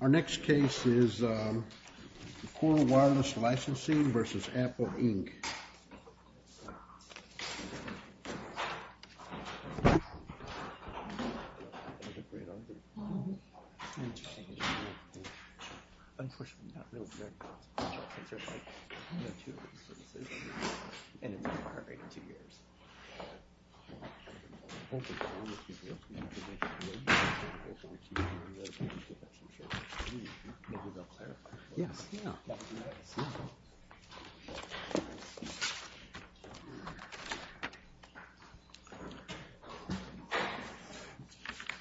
Our next case is Coral Wireless Licensing v. Apple Inc.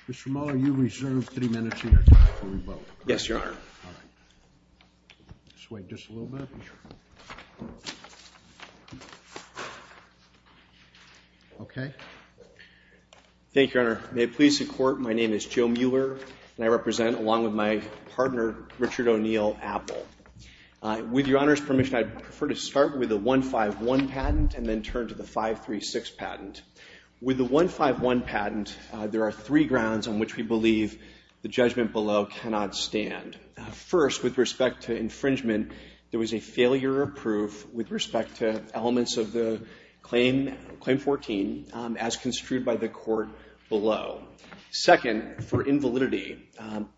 Mr. Mueller, you reserve three minutes of your time before we vote. Yes, Your Honor. All right. Just wait just a little bit. Thank you, Your Honor. May it please the Court, my name is Joe Mueller, and I represent, along with my partner, Richard O'Neill, Apple. With Your Honor's permission, I'd prefer to start with the 151 patent and then turn to the 536 patent. With the 151 patent, there are three grounds on which we believe the judgment below cannot stand. First, with respect to infringement, there was a failure of proof with respect to elements of the Claim 14 as construed by the Court below. Second, for invalidity,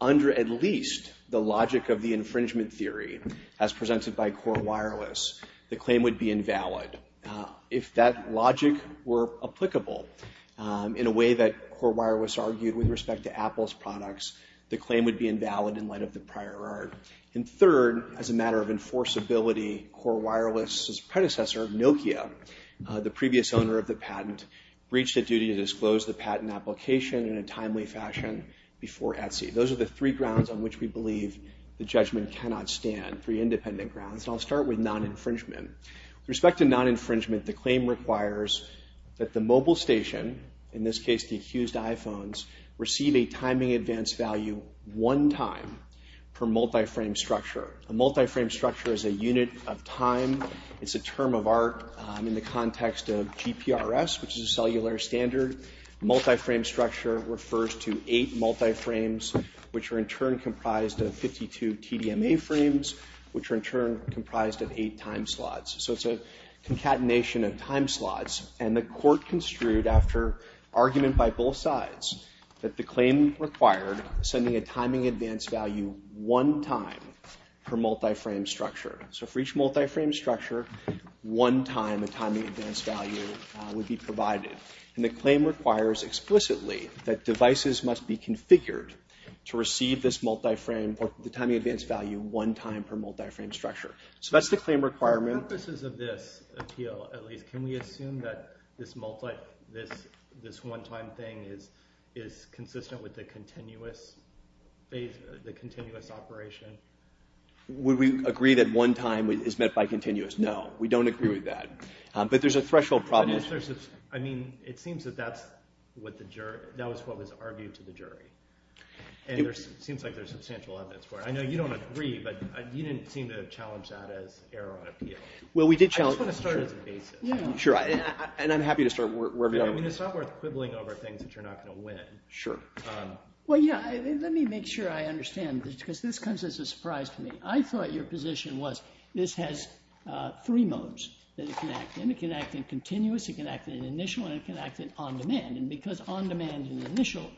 under at least the logic of the infringement theory as presented by Coral Wireless, the claim would be invalid. If that logic were applicable in a way that Coral Wireless argued with respect to Apple's products, the claim would be invalid in light of the prior art. And third, as a matter of enforceability, Coral Wireless's predecessor, Nokia, the previous owner of the patent, breached a duty to disclose the patent application in a timely fashion before Etsy. Those are the three grounds on which we believe the judgment cannot stand, three independent grounds. I'll start with non-infringement. With respect to non-infringement, the claim requires that the mobile station, in this case the accused iPhones, receive a timing advance value one time per multi-frame structure. A multi-frame structure is a unit of time. It's a term of art in the context of GPRS, which is a cellular standard. Multi-frame structure refers to eight multi-frames, which are in turn comprised of 52 TDMA frames, which are in turn comprised of eight time slots. So it's a concatenation of time slots. And the court construed, after argument by both sides, that the claim required sending a timing advance value one time per multi-frame structure. So for each multi-frame structure, one time a timing advance value would be provided. And the claim requires explicitly that devices must be configured to receive this multi-frame or the timing advance value one time per multi-frame structure. So that's the claim requirement. For the purposes of this appeal, at least, can we assume that this multi, this one time thing is consistent with the continuous phase, the continuous operation? Would we agree that one time is met by continuous? No. We don't agree with that. But there's a threshold problem. Unless there's, I mean, it seems that that's what the jury, that was what was argued to the jury. And there seems like there's substantial evidence for it. I know you don't agree, but you didn't seem to challenge that as error on appeal. Well, we did challenge it. I just want to start as a basis. Yeah. Sure. And I'm happy to start wherever you want. I mean, it's not worth quibbling over things that you're not going to win. Sure. Well, yeah. Let me make sure I understand. Because this comes as a surprise to me. I thought your position was this has three modes that it can act in. It can act in continuous, it can act in initial, and it can act in on-demand. And because on-demand and initial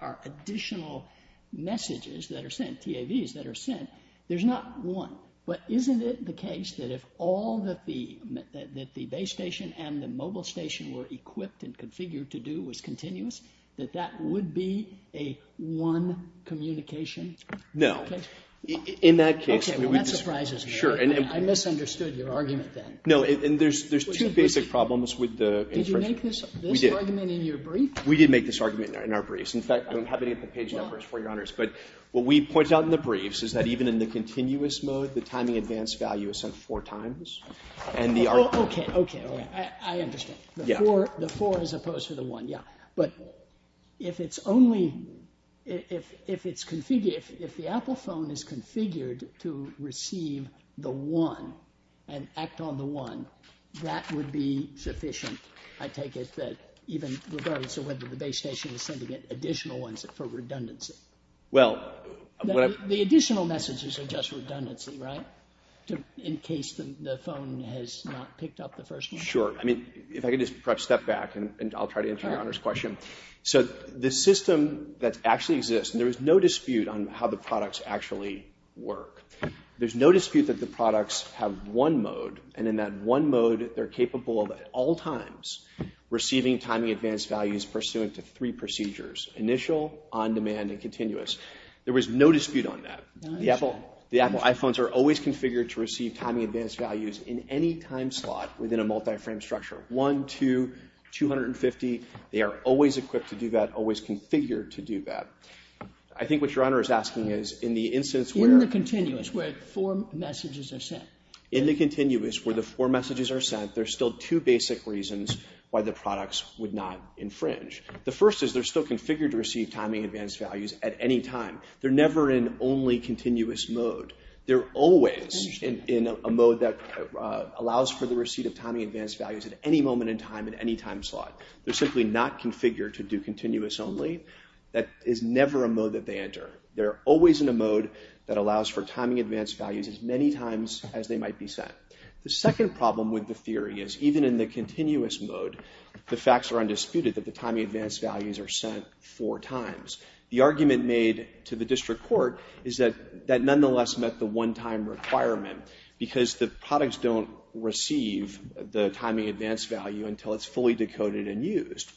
are additional messages that are sent, TAVs that are sent, there's not one. But isn't it the case that if all that the base station and the mobile station were equipped and configured to do was continuous, that that would be a one communication? No. Okay. In that case, I mean, we just— Okay. Well, that surprises me. Sure. And I misunderstood your argument then. No. And there's two basic problems with the— Did you make this— Did you make this argument in your brief? We did make this argument in our briefs. In fact, I don't have any of the page numbers for you, Your Honors. But what we point out in the briefs is that even in the continuous mode, the timing advance value is sent four times. And the— Well, okay. Okay. Okay. I understand. Yeah. The four as opposed to the one. Yeah. But if it's only—if it's configured—if the Apple phone is configured to receive the one and act on the one, that would be sufficient, I take it, that even regardless of whether the base station is sending it additional ones for redundancy? Well, what I— The additional messages are just redundancy, right? In case the phone has not picked up the first one? Sure. I mean, if I could just perhaps step back and I'll try to answer Your Honor's question. So the system that actually exists—and there is no dispute on how the products actually work. There's no dispute that the products have one mode. And in that one mode, they're capable of, at all times, receiving timing advance values pursuant to three procedures—initial, on-demand, and continuous. There was no dispute on that. The Apple iPhones are always configured to receive timing advance values in any time slot within a multi-frame structure—one, two, 250. They are always equipped to do that, always configured to do that. I think what Your Honor is asking is, in the instance where— In the continuous, where four messages are sent. In the continuous, where the four messages are sent, there's still two basic reasons why the products would not infringe. The first is they're still configured to receive timing advance values at any time. They're never in only continuous mode. They're always in a mode that allows for the receipt of timing advance values at any moment in time, at any time slot. They're simply not configured to do continuous only. That is never a mode that they enter. They're always in a mode that allows for timing advance values as many times as they might be sent. The second problem with the theory is, even in the continuous mode, the facts are undisputed that the timing advance values are sent four times. The argument made to the district court is that that nonetheless met the one-time requirement because the products don't receive the timing advance value until it's fully decoded and used.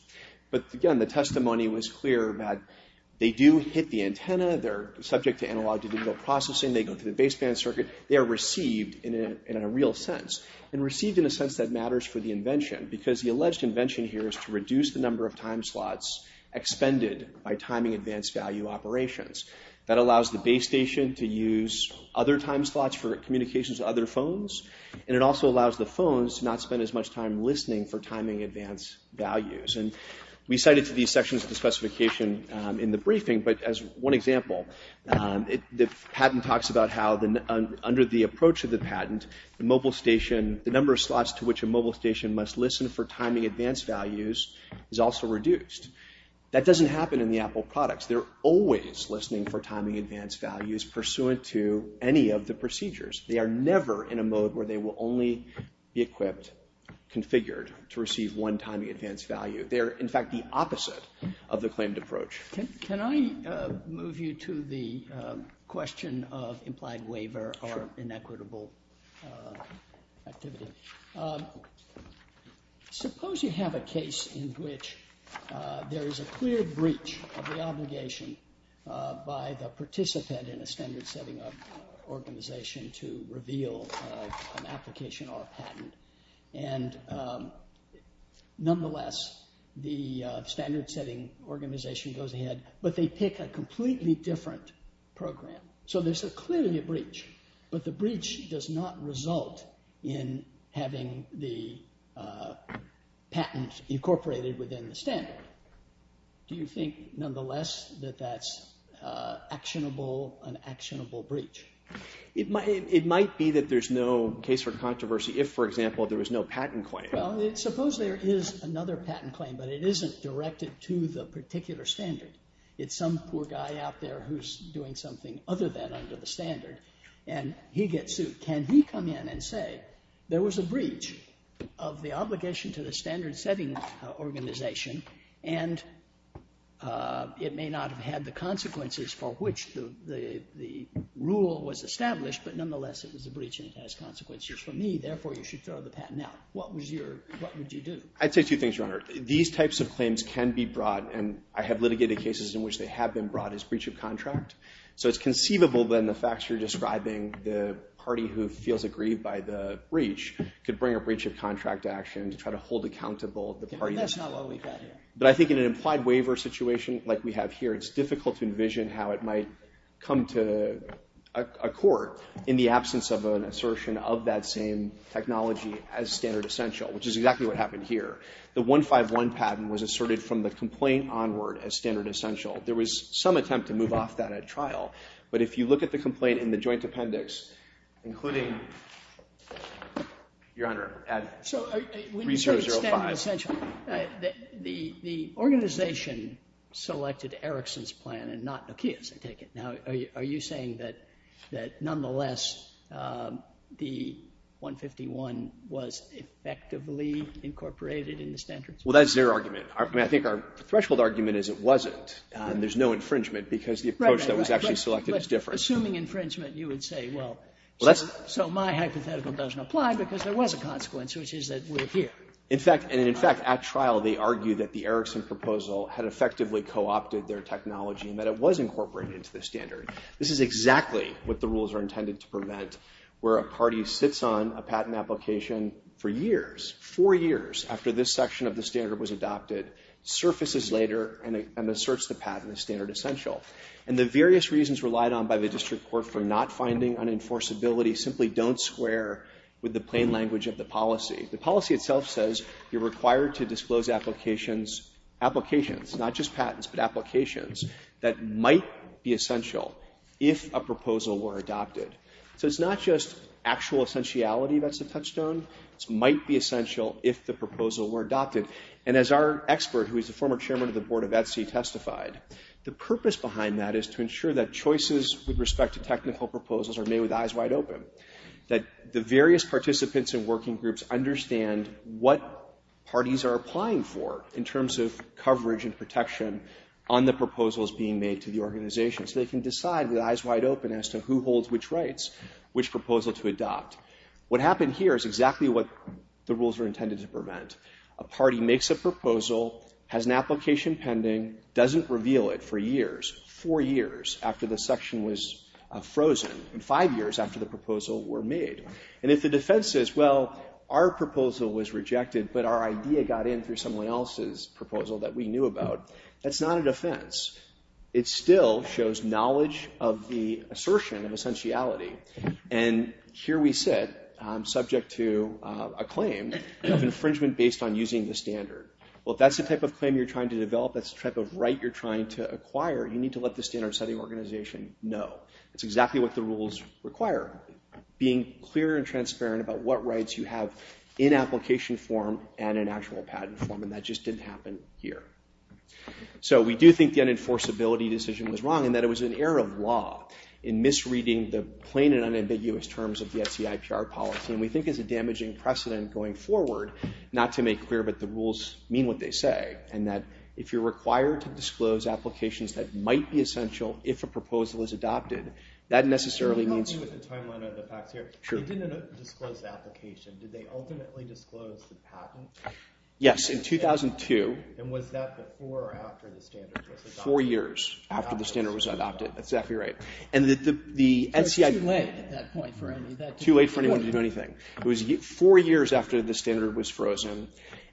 But again, the testimony was clear that they do hit the antenna, they're subject to analog to digital processing, they go to the baseband circuit, they are received in a real sense. And received in a sense that matters for the invention because the alleged invention here is to reduce the number of time slots expended by timing advance value operations. That allows the base station to use other time slots for communications to other phones, and it also allows the phones to not spend as much time listening for timing advance values. And we cited these sections of the specification in the briefing, but as one example, the patent talks about how under the approach of the patent, the number of slots to which a mobile station must listen for timing advance values is also reduced. That doesn't happen in the Apple products. They're always listening for timing advance values pursuant to any of the procedures. They are never in a mode where they will only be equipped, configured to receive one timing advance value. They are in fact the opposite of the claimed approach. Can I move you to the question of implied waiver or inequitable activity? Suppose you have a case in which there is a clear breach of the obligation by the participant in a standard setting organization to reveal an application or a patent, and nonetheless, the standard setting organization goes ahead, but they pick a completely different program. So there's clearly a breach, but the breach does not result in having the patent incorporated within the standard. Do you think nonetheless that that's actionable, an actionable breach? It might be that there's no case for controversy if, for example, there was no patent claim. Suppose there is another patent claim, but it isn't directed to the particular standard. It's some poor guy out there who's doing something other than under the standard, and he gets sued. Can he come in and say there was a breach of the obligation to the standard setting organization, and it may not have had the consequences for which the rule was established, but nonetheless, it was a breach, and it has consequences for me, therefore, you should throw the patent out. What would you do? I'd say two things, Your Honor. These types of claims can be brought, and I have litigated cases in which they have been brought as breach of contract. So it's conceivable, then, the facts you're describing, the party who feels aggrieved by the breach could bring a breach of contract action to try to hold accountable the party that's not. That's not what we've got here. But I think in an implied waiver situation like we have here, it's difficult to envision how it might come to a court in the absence of an assertion of that same technology as standard essential, which is exactly what happened here. The 151 patent was asserted from the complaint onward as standard essential. There was some attempt to move off that at trial, but if you look at the complaint in the joint appendix, including, Your Honor, at research 05. So when you say standard essential, the organization selected Erickson's plan and not Nokia's, I take it. Now, are you saying that nonetheless, the 151 was effectively incorporated in the standards plan? Well, that's their argument. I mean, I think our threshold argument is it wasn't, and there's no infringement because the approach that was actually selected is different. So assuming infringement, you would say, well, so my hypothetical doesn't apply because there was a consequence, which is that we're here. In fact, at trial, they argue that the Erickson proposal had effectively co-opted their technology and that it was incorporated into the standard. This is exactly what the rules are intended to prevent, where a party sits on a patent application for years, four years after this section of the standard was adopted, surfaces later and asserts the patent as standard essential. And the various reasons relied on by the district court for not finding unenforceability simply don't square with the plain language of the policy. The policy itself says you're required to disclose applications, not just patents, but applications that might be essential if a proposal were adopted. So it's not just actual essentiality that's a touchstone. It might be essential if the proposal were adopted. And as our expert, who is the former chairman of the Board of Etsy, testified, the purpose behind that is to ensure that choices with respect to technical proposals are made with eyes wide open, that the various participants and working groups understand what parties are applying for in terms of coverage and protection on the proposals being made to the organization, so they can decide with eyes wide open as to who holds which rights, which proposal to adopt. What happened here is exactly what the rules were intended to prevent. A party makes a proposal, has an application pending, doesn't reveal it for years, four years after the section was frozen, and five years after the proposal were made. And if the defense says, well, our proposal was rejected, but our idea got in through someone else's proposal that we knew about, that's not a defense. It still shows knowledge of the assertion of essentiality. And here we sit, subject to a claim of infringement based on using the standard. Well, if that's the type of claim you're trying to develop, that's the type of right you're trying to acquire, you need to let the standard setting organization know. It's exactly what the rules require, being clear and transparent about what rights you have in application form and in actual patent form. And that just didn't happen here. So we do think the unenforceability decision was wrong, in that it was an error of law in misreading the plain and unambiguous terms of the SEIPR policy. And we think it's a damaging precedent going forward, not to make clear, but the rules mean what they say. And that if you're required to disclose applications that might be essential if a proposal is adopted, that necessarily means- Can you help me with the timeline of the facts here? Sure. They didn't disclose the application. Did they ultimately disclose the patent? Yes, in 2002. And was that before or after the standard was adopted? Four years after the standard was adopted. That's exactly right. And the NCI- It was too late at that point for anyone to do anything. Too late for anyone to do anything. It was four years after the standard was frozen.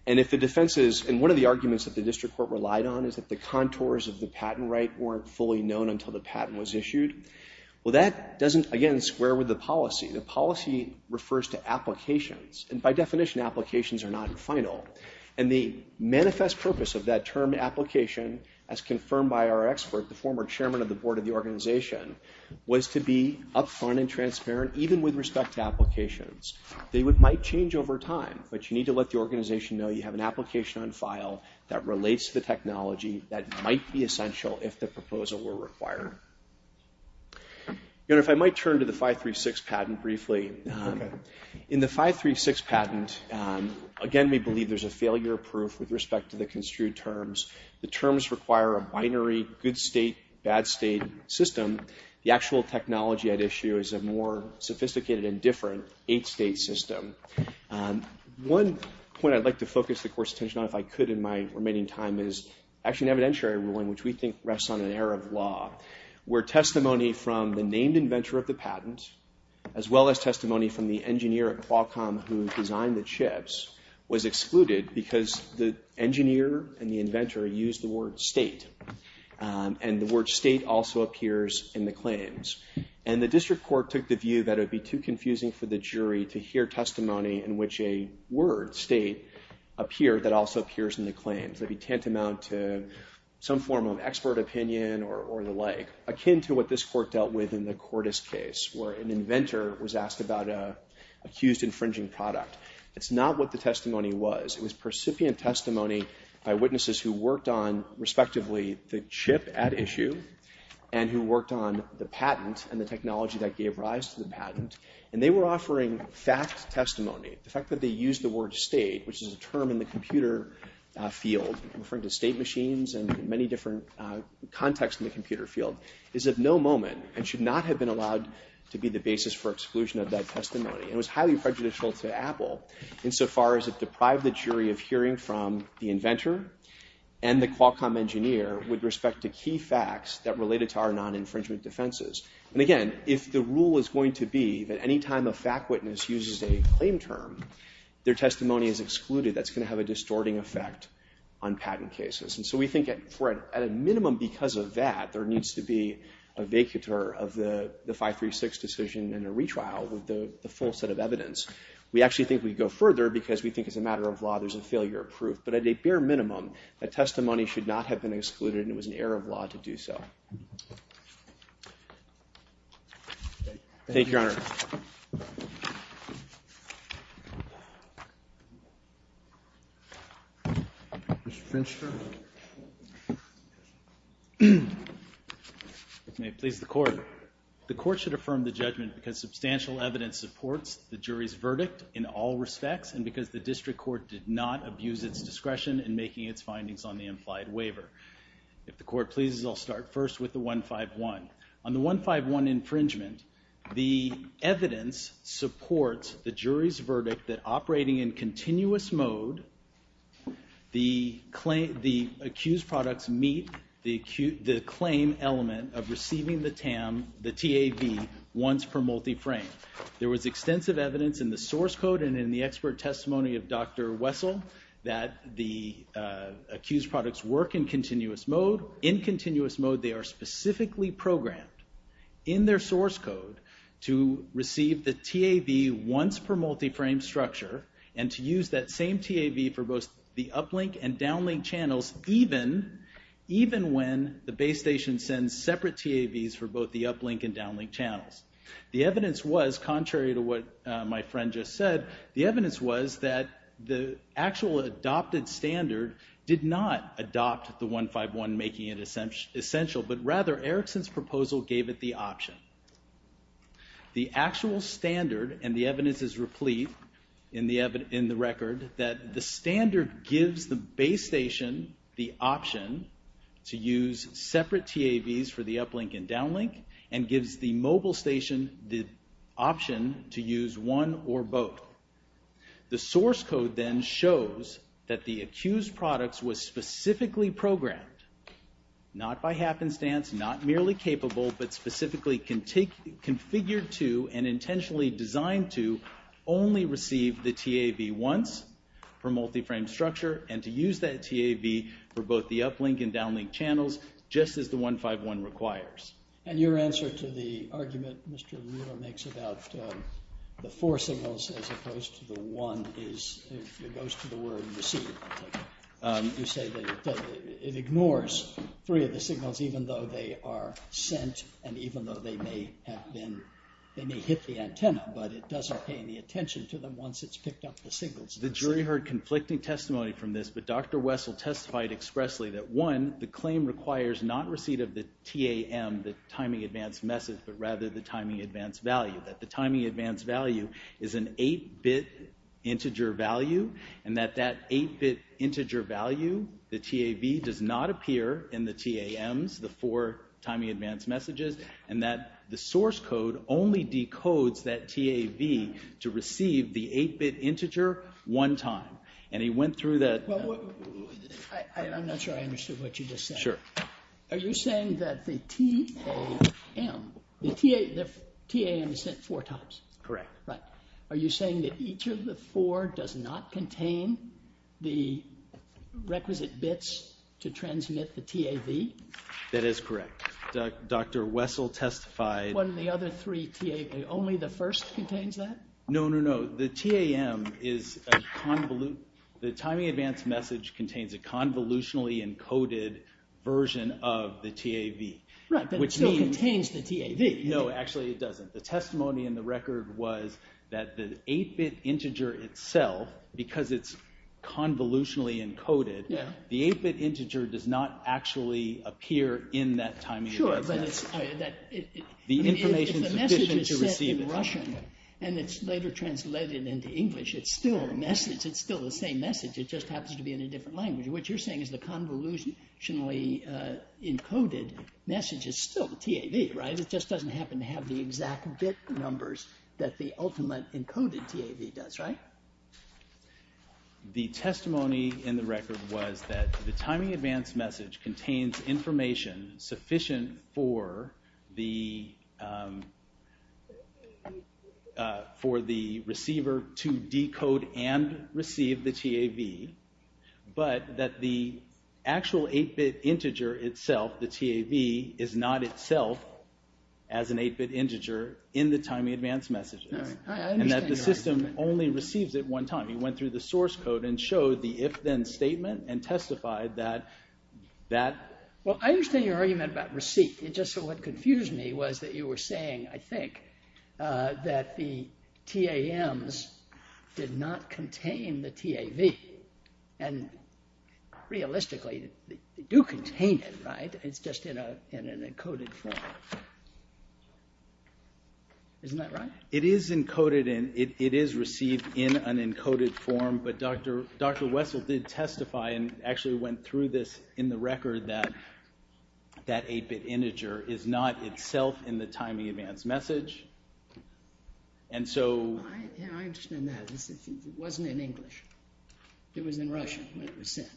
And if the defense is- and one of the arguments that the district court relied on is that the contours of the patent right weren't fully known until the patent was issued. Well, that doesn't, again, square with the policy. The policy refers to applications. And by definition, applications are not final. And the manifest purpose of that term, application, as confirmed by our expert, the former chairman of the board of the organization, was to be upfront and transparent, even with respect to applications. They might change over time, but you need to let the organization know you have an application on file that relates to the technology that might be essential if the proposal were required. If I might turn to the 536 patent briefly. In the 536 patent, again, we believe there's a failure proof with respect to the construed terms. The terms require a binary good state, bad state system. The actual technology at issue is a more sophisticated and different eight-state system. One point I'd like to focus the court's attention on, if I could in my remaining time, is actually an evidentiary ruling, which we think rests on an error of law, where testimony from the named inventor of the patent, as well as testimony from the engineer at Qualcomm who designed the chips, was excluded because the engineer and the inventor used the word state. And the word state also appears in the claims. And the district court took the view that it would be too confusing for the jury to hear testimony in which a word, state, appeared that also appears in the claims. It would be tantamount to some form of expert opinion or the like, akin to what this court dealt with in the Cordes case, where an inventor was asked about an accused infringing product. It's not what the testimony was. It was percipient testimony by witnesses who worked on, respectively, the chip at issue and who worked on the patent and the technology that gave rise to the patent. And they were offering fact testimony. The fact that they used the word state, which is a term in the computer field referring to state machines and many different contexts in the computer field, is of no moment and should not have been allowed to be the basis for exclusion of that testimony. And it was highly prejudicial to Apple insofar as it deprived the jury of hearing from the inventor and the Qualcomm engineer with respect to key facts that related to our non-infringement defenses. And again, if the rule is going to be that any time a fact witness uses a claim term, their testimony is excluded, that's going to have a distorting effect on patent cases. And so we think at a minimum because of that, there needs to be a vacatur of the 536 decision and a retrial with the full set of evidence. We actually think we'd go further because we think as a matter of law, there's a failure of proof. But at a bare minimum, a testimony should not have been excluded and it was an error of law to do so. Thank you, Your Honor. Mr. Finster. May it please the Court. The Court should affirm the judgment because substantial evidence supports the jury's verdict in all respects and because the District Court did not abuse its discretion in making its findings on the implied waiver. If the Court pleases, I'll start first with the 151. On the 151 infringement, the evidence supports the jury's verdict that operating in continuous mode, the accused products meet the claim element of receiving the TAM, the TAV, once per multi-frame. There was extensive evidence in the source code and in the expert testimony of Dr. Wessel that the accused products work in continuous mode. In continuous mode, they are specifically programmed in their source code to receive the TAV once per multi-frame structure and to use that same TAV for both the uplink and downlink channels even when the base station sends separate TAVs for both the uplink and downlink channels. The evidence was, contrary to what my friend just said, the evidence was that the actual adopted standard did not adopt the 151 making it essential but rather Erickson's proposal gave it the option. The actual standard and the evidence is replete in the record that the standard gives the base station the option to use separate TAVs for the uplink and downlink and gives the mobile station the option to use one or both. The source code then shows that the accused products was specifically programmed, not by happenstance, not merely capable, but specifically configured to and intentionally designed to only receive the TAV once per multi-frame structure and to use that TAV for both the uplink and downlink channels just as the 151 requires. And your answer to the argument Mr. Mueller makes about the four signals as opposed to the one is, it goes to the word receive, you say that it ignores three of the signals even though they are sent and even though they may have been, they may hit the antenna but it doesn't pay any attention to them once it's picked up the signals. The jury heard conflicting testimony from this but Dr. Wessel testified expressly that one, the claim requires not receipt of the TAM, the timing advance message, but rather the timing advance value, that the timing advance value is an 8-bit integer value and that that 8-bit integer value, the TAV does not appear in the TAMs, the four timing advance messages, and that the source code only decodes that TAV to receive the 8-bit integer one time. And he went through that... Well, I'm not sure I understood what you just said. Sure. Are you saying that the TAM, the TAM is sent four times? Correct. Right. Are you saying that each of the four does not contain the requisite bits to transmit the TAV? That is correct. Dr. Wessel testified... One of the other three TAV, only the first contains that? No, no, no. The TAM is, the timing advance message contains a convolutionally encoded version of the TAV. Right, but it still contains the TAV. No, actually it doesn't. The testimony in the record was that the 8-bit integer itself, because it's convolutionally encoded, the 8-bit integer does not actually appear in that timing advance message. The information is sufficient to receive it. If the message is sent in Russian and it's later translated into English, it's still a message, it's still the same message, it just happens to be in a different language. What you're saying is the convolutionally encoded message is still the TAV, right? It just doesn't happen to have the exact bit numbers that the ultimate encoded TAV does, right? The testimony in the record was that the timing advance message contains information sufficient for the receiver to decode and receive the TAV, but that the actual 8-bit integer itself, the TAV, is not itself as an 8-bit integer in the timing advance messages, and that the system only receives it one time. He went through the source code and showed the if-then statement and testified that... Well, I understand your argument about receipt. Just what confused me was that you were saying, I think, that the TAMs did not contain the TAV. And realistically, they do contain it, right? It's just in an encoded form. Isn't that right? It is encoded and it is received in an encoded form, but Dr. Wessel did testify and actually went through this in the record that that 8-bit integer is not itself in the timing advance message. And so... I understand that. It wasn't in English. It was in Russian when it was sent.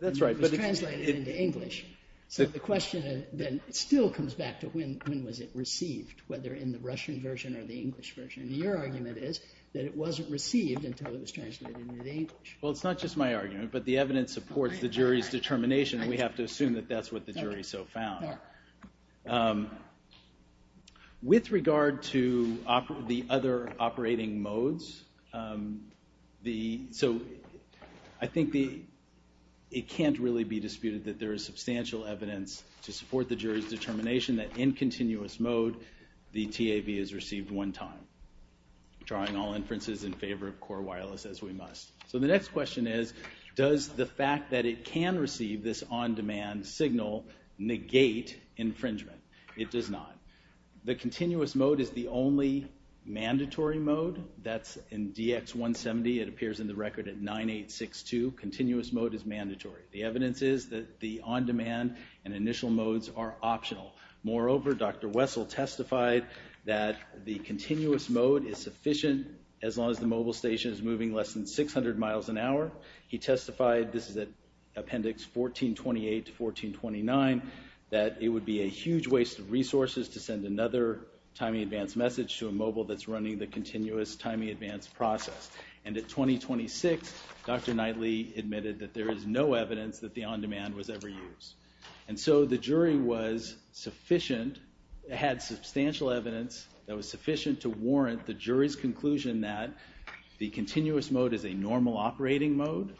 That's right, but... It was translated into English. So the question then still comes back to when was it received, whether in the Russian version or the English version. And your argument is that it wasn't received until it was translated into English. Well, it's not just my argument, but the evidence supports the jury's determination. We have to assume that that's what the jury so found. With regard to the other operating modes, I think it can't really be disputed that there is substantial evidence to support the jury's determination that in continuous mode, the TAV is received one time, drawing all inferences in favor of core wireless as we must. So the next question is, does the fact that it can receive this on-demand signal negate infringement? It does not. The continuous mode is the only mandatory mode. That's in DX170. It appears in the record at 9862. Continuous mode is mandatory. The evidence is that the on-demand and initial modes are optional. Moreover, Dr. Wessel testified that the continuous mode is sufficient as long as the mobile station is moving less than 600 miles an hour. He testified, this is at appendix 1428 to 1429, that it would be a huge waste of resources to send another timing advance message to a mobile that's running the continuous timing advance process. And at 2026, Dr. Knightley admitted that there is no evidence that the on-demand was ever used. And so the jury was sufficient, had substantial evidence that was sufficient to warrant the jury's conclusion that the continuous mode is a normal operating mode,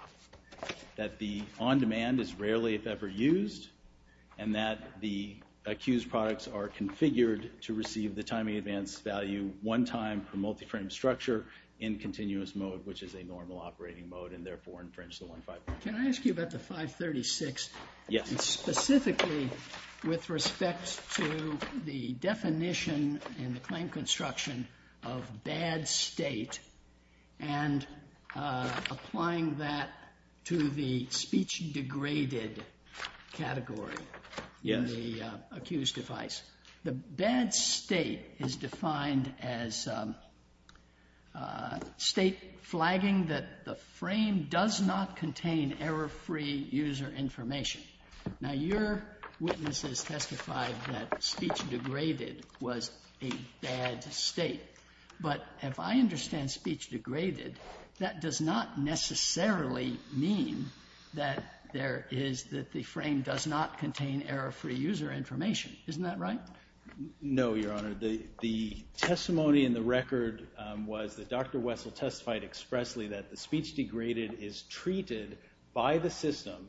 that the on-demand is rarely if ever used, and that the accused products are configured to receive the timing advance value one time for multi-frame structure in continuous mode, which is a normal operating mode, and therefore infringes the 155. Can I ask you about the 536? Yes. Specifically with respect to the definition and the claim construction of bad state and applying that to the speech degraded category. Yes. In the accused device. The bad state is defined as state flagging that the frame does not contain error-free user information. Now, your witnesses testified that speech degraded was a bad state. But if I understand speech degraded, that does not necessarily mean that there is, that the frame does not contain error-free user information. Isn't that right? No, Your Honor. The testimony in the record was that Dr. Wessel testified expressly that the speech degraded is treated by the system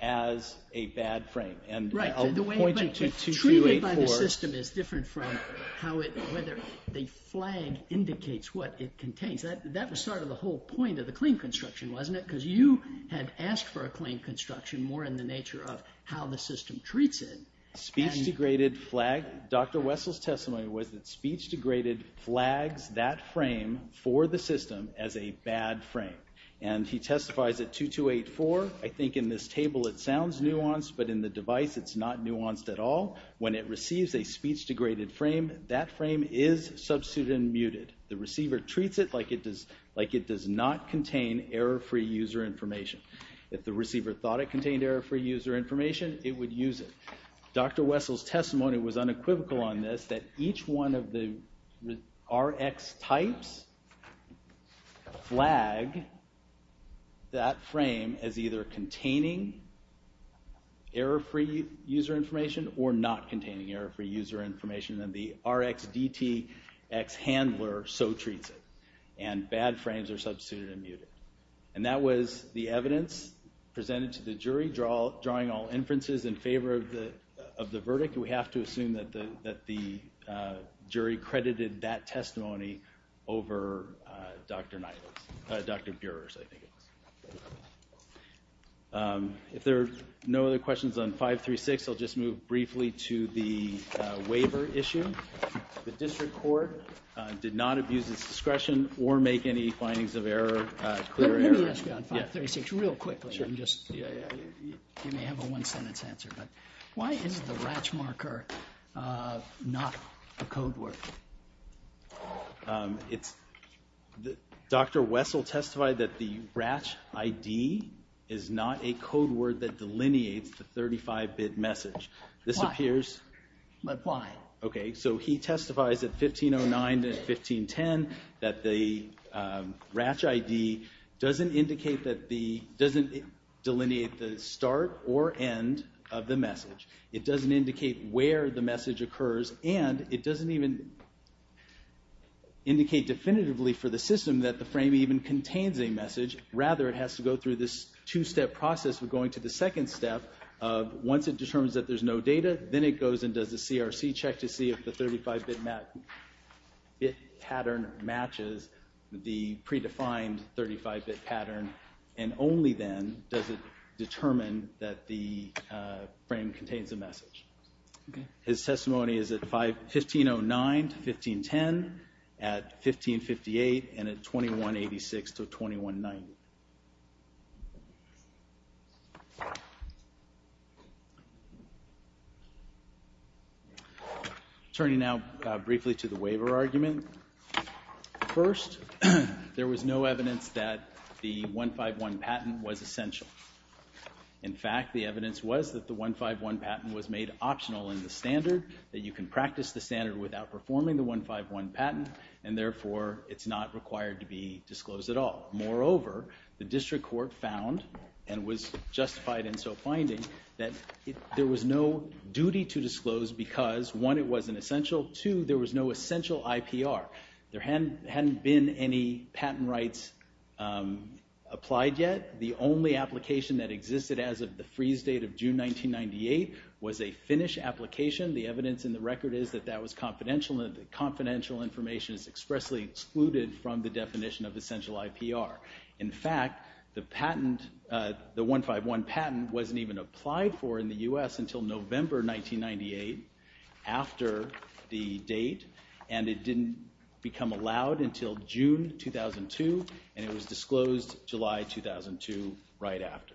as a bad frame. And I'll point you to 284. The system is different from how it, whether the flag indicates what it contains. That was sort of the whole point of the claim construction, wasn't it? Because you had asked for a claim construction more in the nature of how the system treats it. Speech degraded flag. Dr. Wessel's testimony was that speech degraded flags that frame for the system as a bad frame. And he testifies at 2284. I think in this table it sounds nuanced, but in the device it's not nuanced at all. When it receives a speech degraded frame, that frame is substituted and muted. The receiver treats it like it does not contain error-free user information. If the receiver thought it contained error-free user information, it would use it. Dr. Wessel's testimony was unequivocal on this, that each one of the RX types flag that frame as either containing error-free user information or not containing error-free user information, then the RX DTX handler so treats it. And bad frames are substituted and muted. And that was the evidence presented to the jury, drawing all inferences in favor of the verdict. We have to assume that the jury credited that testimony over Dr. Burer's, I think it was. If there are no other questions on 536, I'll just move briefly to the waiver issue. The district court did not abuse its discretion or make any findings of error, clear error. Let me ask you on 536 real quickly. You may have a one-sentence answer, but why is the RATCH marker not a code word? Dr. Wessel testified that the RATCH ID is not a code word that delineates the 35-bit message. Why? Okay, so he testifies at 1509 to 1510 that the RATCH ID doesn't delineate the start or end of the message. It doesn't indicate where the message occurs, and it doesn't even indicate definitively for the system that the frame even contains a message. Rather, it has to go through this two-step process of going to the second step. Once it determines that there's no data, then it goes and does a CRC check to see if the 35-bit pattern matches the predefined 35-bit pattern. And only then does it determine that the frame contains a message. His testimony is at 1509 to 1510, at 1558, and at 2186 to 2190. Turning now briefly to the waiver argument. First, there was no evidence that the 151 patent was essential. In fact, the evidence was that the 151 patent was made optional in the standard, that you can practice the standard without performing the 151 patent, and therefore it's not required to be disclosed at all. Moreover, the district court found, and was justified in so finding, that there was no duty to disclose because, one, it wasn't essential, two, there was no essential IPR. There hadn't been any patent rights applied yet. The only application that existed as of the freeze date of June 1998 was a Finnish application. The evidence in the record is that that was confidential, and the confidential information is expressly excluded from the definition of essential IPR. In fact, the 151 patent wasn't even applied for in the U.S. until November 1998, after the date, and it didn't become allowed until June 2002, and it was disclosed July 2002, right after.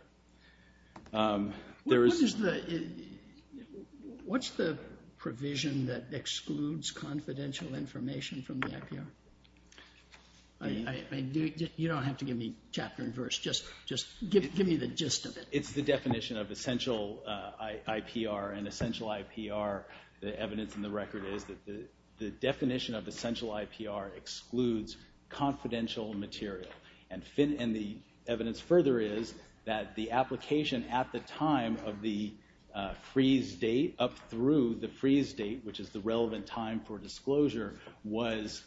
What's the provision that excludes confidential information from the IPR? You don't have to give me chapter and verse, just give me the gist of it. It's the definition of essential IPR, and essential IPR, the evidence in the record is that the definition of essential IPR excludes confidential material, and the evidence further is that the application at the time of the freeze date, up through the freeze date, which is the relevant time for disclosure, was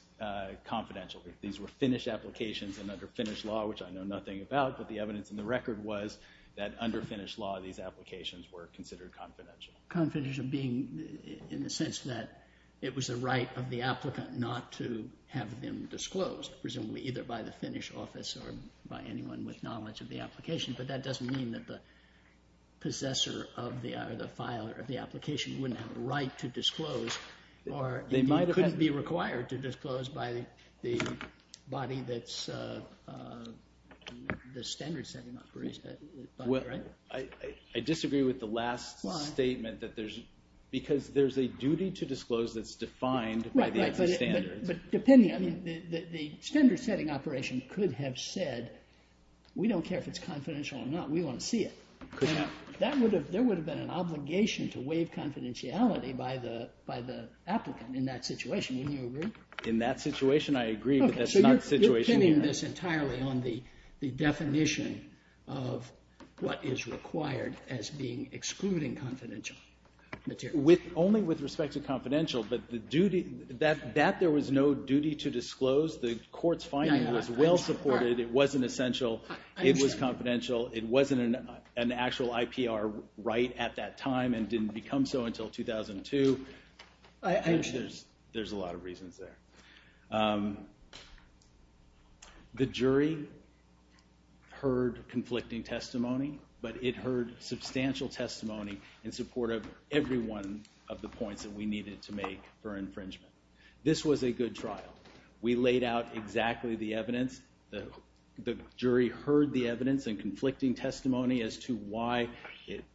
confidential. These were Finnish applications, and under Finnish law, which I know nothing about, but the evidence in the record was that under Finnish law, these applications were considered confidential. Confidential being in the sense that it was the right of the applicant not to have them disclosed, presumably either by the Finnish office or by anyone with knowledge of the application, but that doesn't mean that the possessor of the application wouldn't have a right to disclose, or couldn't be required to disclose by the body that's the standard setting operation. I disagree with the last statement. Why? Because there's a duty to disclose that's defined by the existing standards. But depending, I mean, the standard setting operation could have said, we don't care if it's confidential or not, we want to see it. There would have been an obligation to waive confidentiality by the applicant in that situation. Wouldn't you agree? In that situation, I agree, but that's not the situation here. You're pinning this entirely on the definition of what is required as being excluding confidential material. Only with respect to confidential, but that there was no duty to disclose. The court's finding was well supported. It wasn't essential. It was confidential. It wasn't an actual IPR right at that time and didn't become so until 2002. I think there's a lot of reasons there. The jury heard conflicting testimony, but it heard substantial testimony in support of every one of the points that we needed to make for infringement. This was a good trial. We laid out exactly the evidence. The jury heard the evidence and conflicting testimony as to why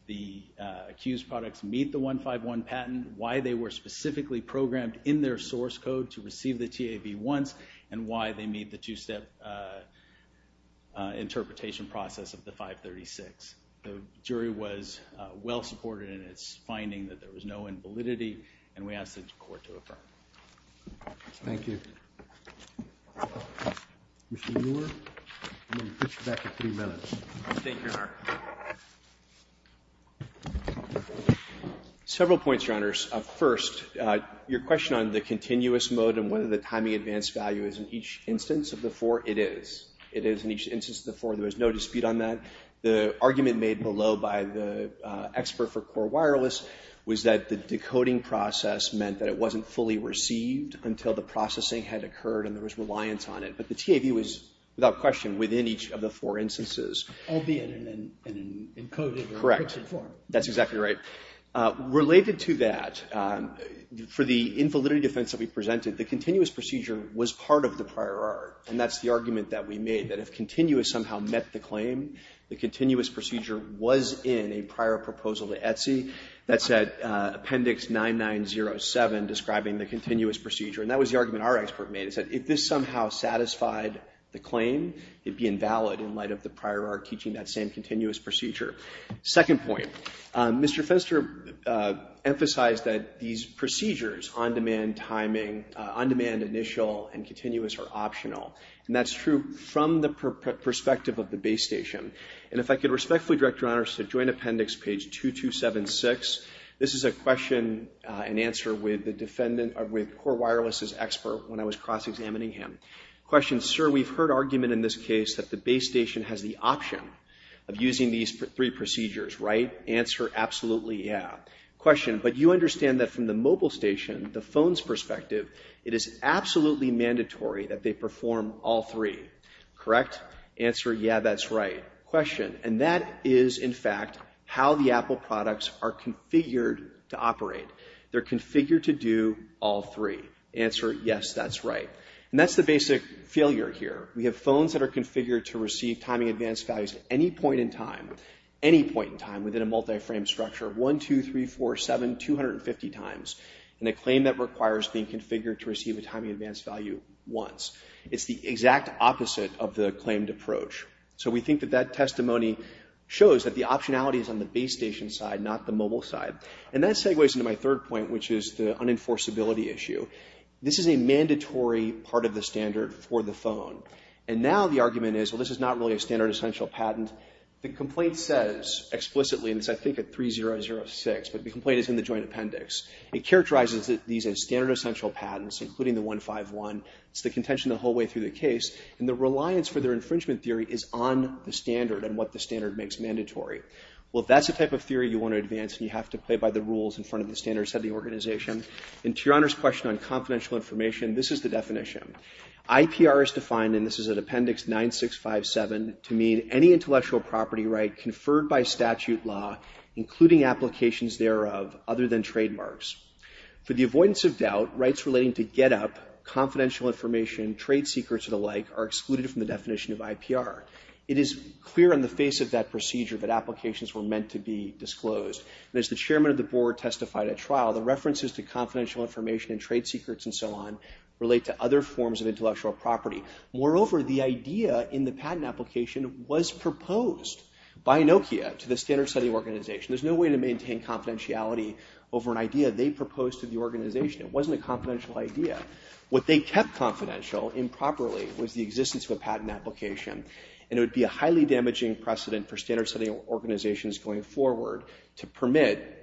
the accused products meet the 151 patent, why they were specifically programmed in their source code to receive the TAB once, and why they meet the two-step interpretation process of the 536. The jury was well supported in its finding that there was no invalidity, and we asked the court to affirm. Thank you. Mr. Muir, I'm going to put you back for three minutes. Thank you, Your Honor. Several points, Your Honors. First, your question on the continuous mode and whether the timing advance value is in each instance of the four. It is. It is in each instance of the four. There was no dispute on that. The argument made below by the expert for Core Wireless was that the decoding process meant that it wasn't fully received until the processing had occurred and there was reliance on it. But the TAB was, without question, within each of the four instances. Albeit in an encoded or encrypted form. Correct. That's exactly right. Related to that, for the invalidity defense that we presented, the continuous procedure was part of the prior art. And that's the argument that we made, that if continuous somehow met the claim, the continuous procedure was in a prior proposal to Etsy that said Appendix 9907 describing the continuous procedure. And that was the argument our expert made, is that if this somehow satisfied the claim, it'd be invalid in light of the prior art teaching that same continuous procedure. Second point. Mr. Fenster emphasized that these procedures, on-demand timing, on-demand initial, and continuous are optional. And that's true from the perspective of the base station. And if I could respectfully direct your honors to Joint Appendix page 2276. This is a question and answer with Core Wireless's expert when I was cross-examining him. Question, sir, we've heard argument in this case that the base station has the option of using these three procedures, right? Answer, absolutely, yeah. Question, but you understand that from the mobile station, the phone's perspective, it is absolutely mandatory that they perform all three, correct? Answer, yeah, that's right. Question, and that is, in fact, how the Apple products are configured to operate. They're configured to do all three. Answer, yes, that's right. And that's the basic failure here. We have phones that are configured to receive timing advance values at any point in time, any point in time within a multi-frame structure, one, two, three, four, seven, 250 times, and a claim that requires being configured to receive a timing advance value once. It's the exact opposite of the claimed approach. So we think that that testimony shows that the optionality is on the base station side, not the mobile side. And that segues into my third point, which is the unenforceability issue. This is a mandatory part of the standard for the phone. And now the argument is, well, this is not really a standard essential patent. The complaint says explicitly, and it's, I think, at 3006, but the complaint is in the joint appendix. It characterizes these as standard essential patents, including the 151. It's the contention the whole way through the case, and the reliance for their infringement theory is on the standard and what the standard makes mandatory. Well, if that's the type of theory you want to advance, then you have to play by the rules in front of the standard setting organization. And to Your Honor's question on confidential information, this is the definition. IPR is defined, and this is at Appendix 9657, to mean any intellectual property right conferred by statute law, including applications thereof, other than trademarks. For the avoidance of doubt, rights relating to get-up, confidential information, trade secrets, and the like, are excluded from the definition of IPR. It is clear on the face of that procedure that applications were meant to be disclosed. And as the chairman of the board testified at trial, the references to confidential information and trade secrets and so on relate to other forms of intellectual property. Moreover, the idea in the patent application was proposed by Nokia to the standard setting organization. There's no way to maintain confidentiality over an idea they proposed to the organization. It wasn't a confidential idea. What they kept confidential, improperly, was the existence of a patent application. And it would be a highly damaging precedent for standard setting organizations going forward to permit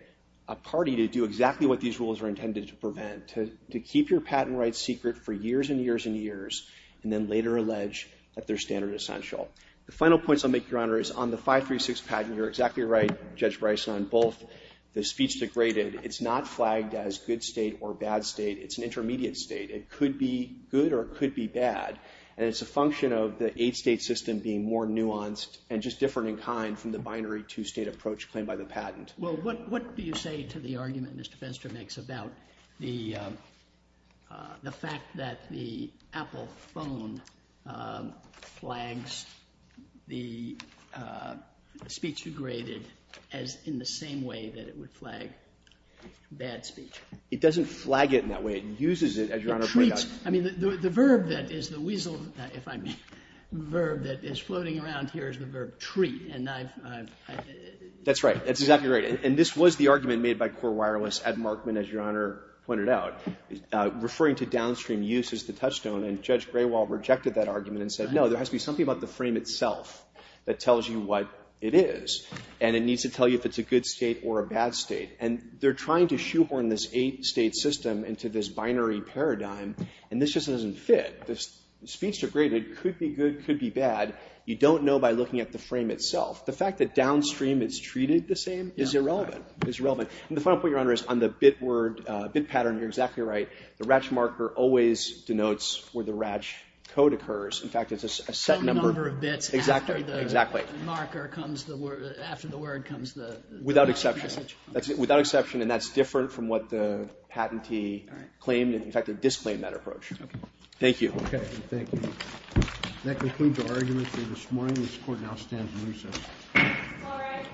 a party to do exactly what these rules were intended to prevent, to keep your patent rights secret for years and years and years, and then later allege that they're standard essential. The final points I'll make, Your Honor, is on the 536 patent, you're exactly right, Judge Bryson, on both the speech degraded. It's not flagged as good state or bad state. It's an intermediate state. It could be good or it could be bad. And it's a function of the eight-state system being more nuanced and just different in kind from the binary two-state approach claimed by the patent. Well, what do you say to the argument that Mr. Fenster makes about the fact that the Apple phone flags the speech degraded as in the same way that it would flag bad speech? It doesn't flag it in that way. It uses it, as Your Honor pointed out. I mean, the verb that is the weasel, if I may, the verb that is floating around here is the verb treat. And I've, I've, I've. That's right. That's exactly right. And this was the argument made by Core Wireless at Markman, as Your Honor pointed out, referring to downstream use as the touchstone. And Judge Graywall rejected that argument and said, no, there has to be something about the frame itself that tells you what it is. And it needs to tell you if it's a good state or a bad state. And they're trying to shoehorn this eight-state system into this binary paradigm. And this just doesn't fit. The speech degraded could be good, could be bad. You don't know by looking at the frame itself. The fact that downstream it's treated the same is irrelevant, is irrelevant. And the final point, Your Honor, is on the bit word, bit pattern, you're exactly right. The RATCH marker always denotes where the RATCH code occurs. In fact, it's a set number of bits after the marker comes, after the word comes, the message comes. Without exception. Without exception. And that's different from what the patentee claimed. In fact, they disclaimed that approach. Thank you. Thank you. That concludes our argument for this morning. This Court now stands in recess. All rise. The Honorable Court has adjourned until tomorrow morning at 3 a.m.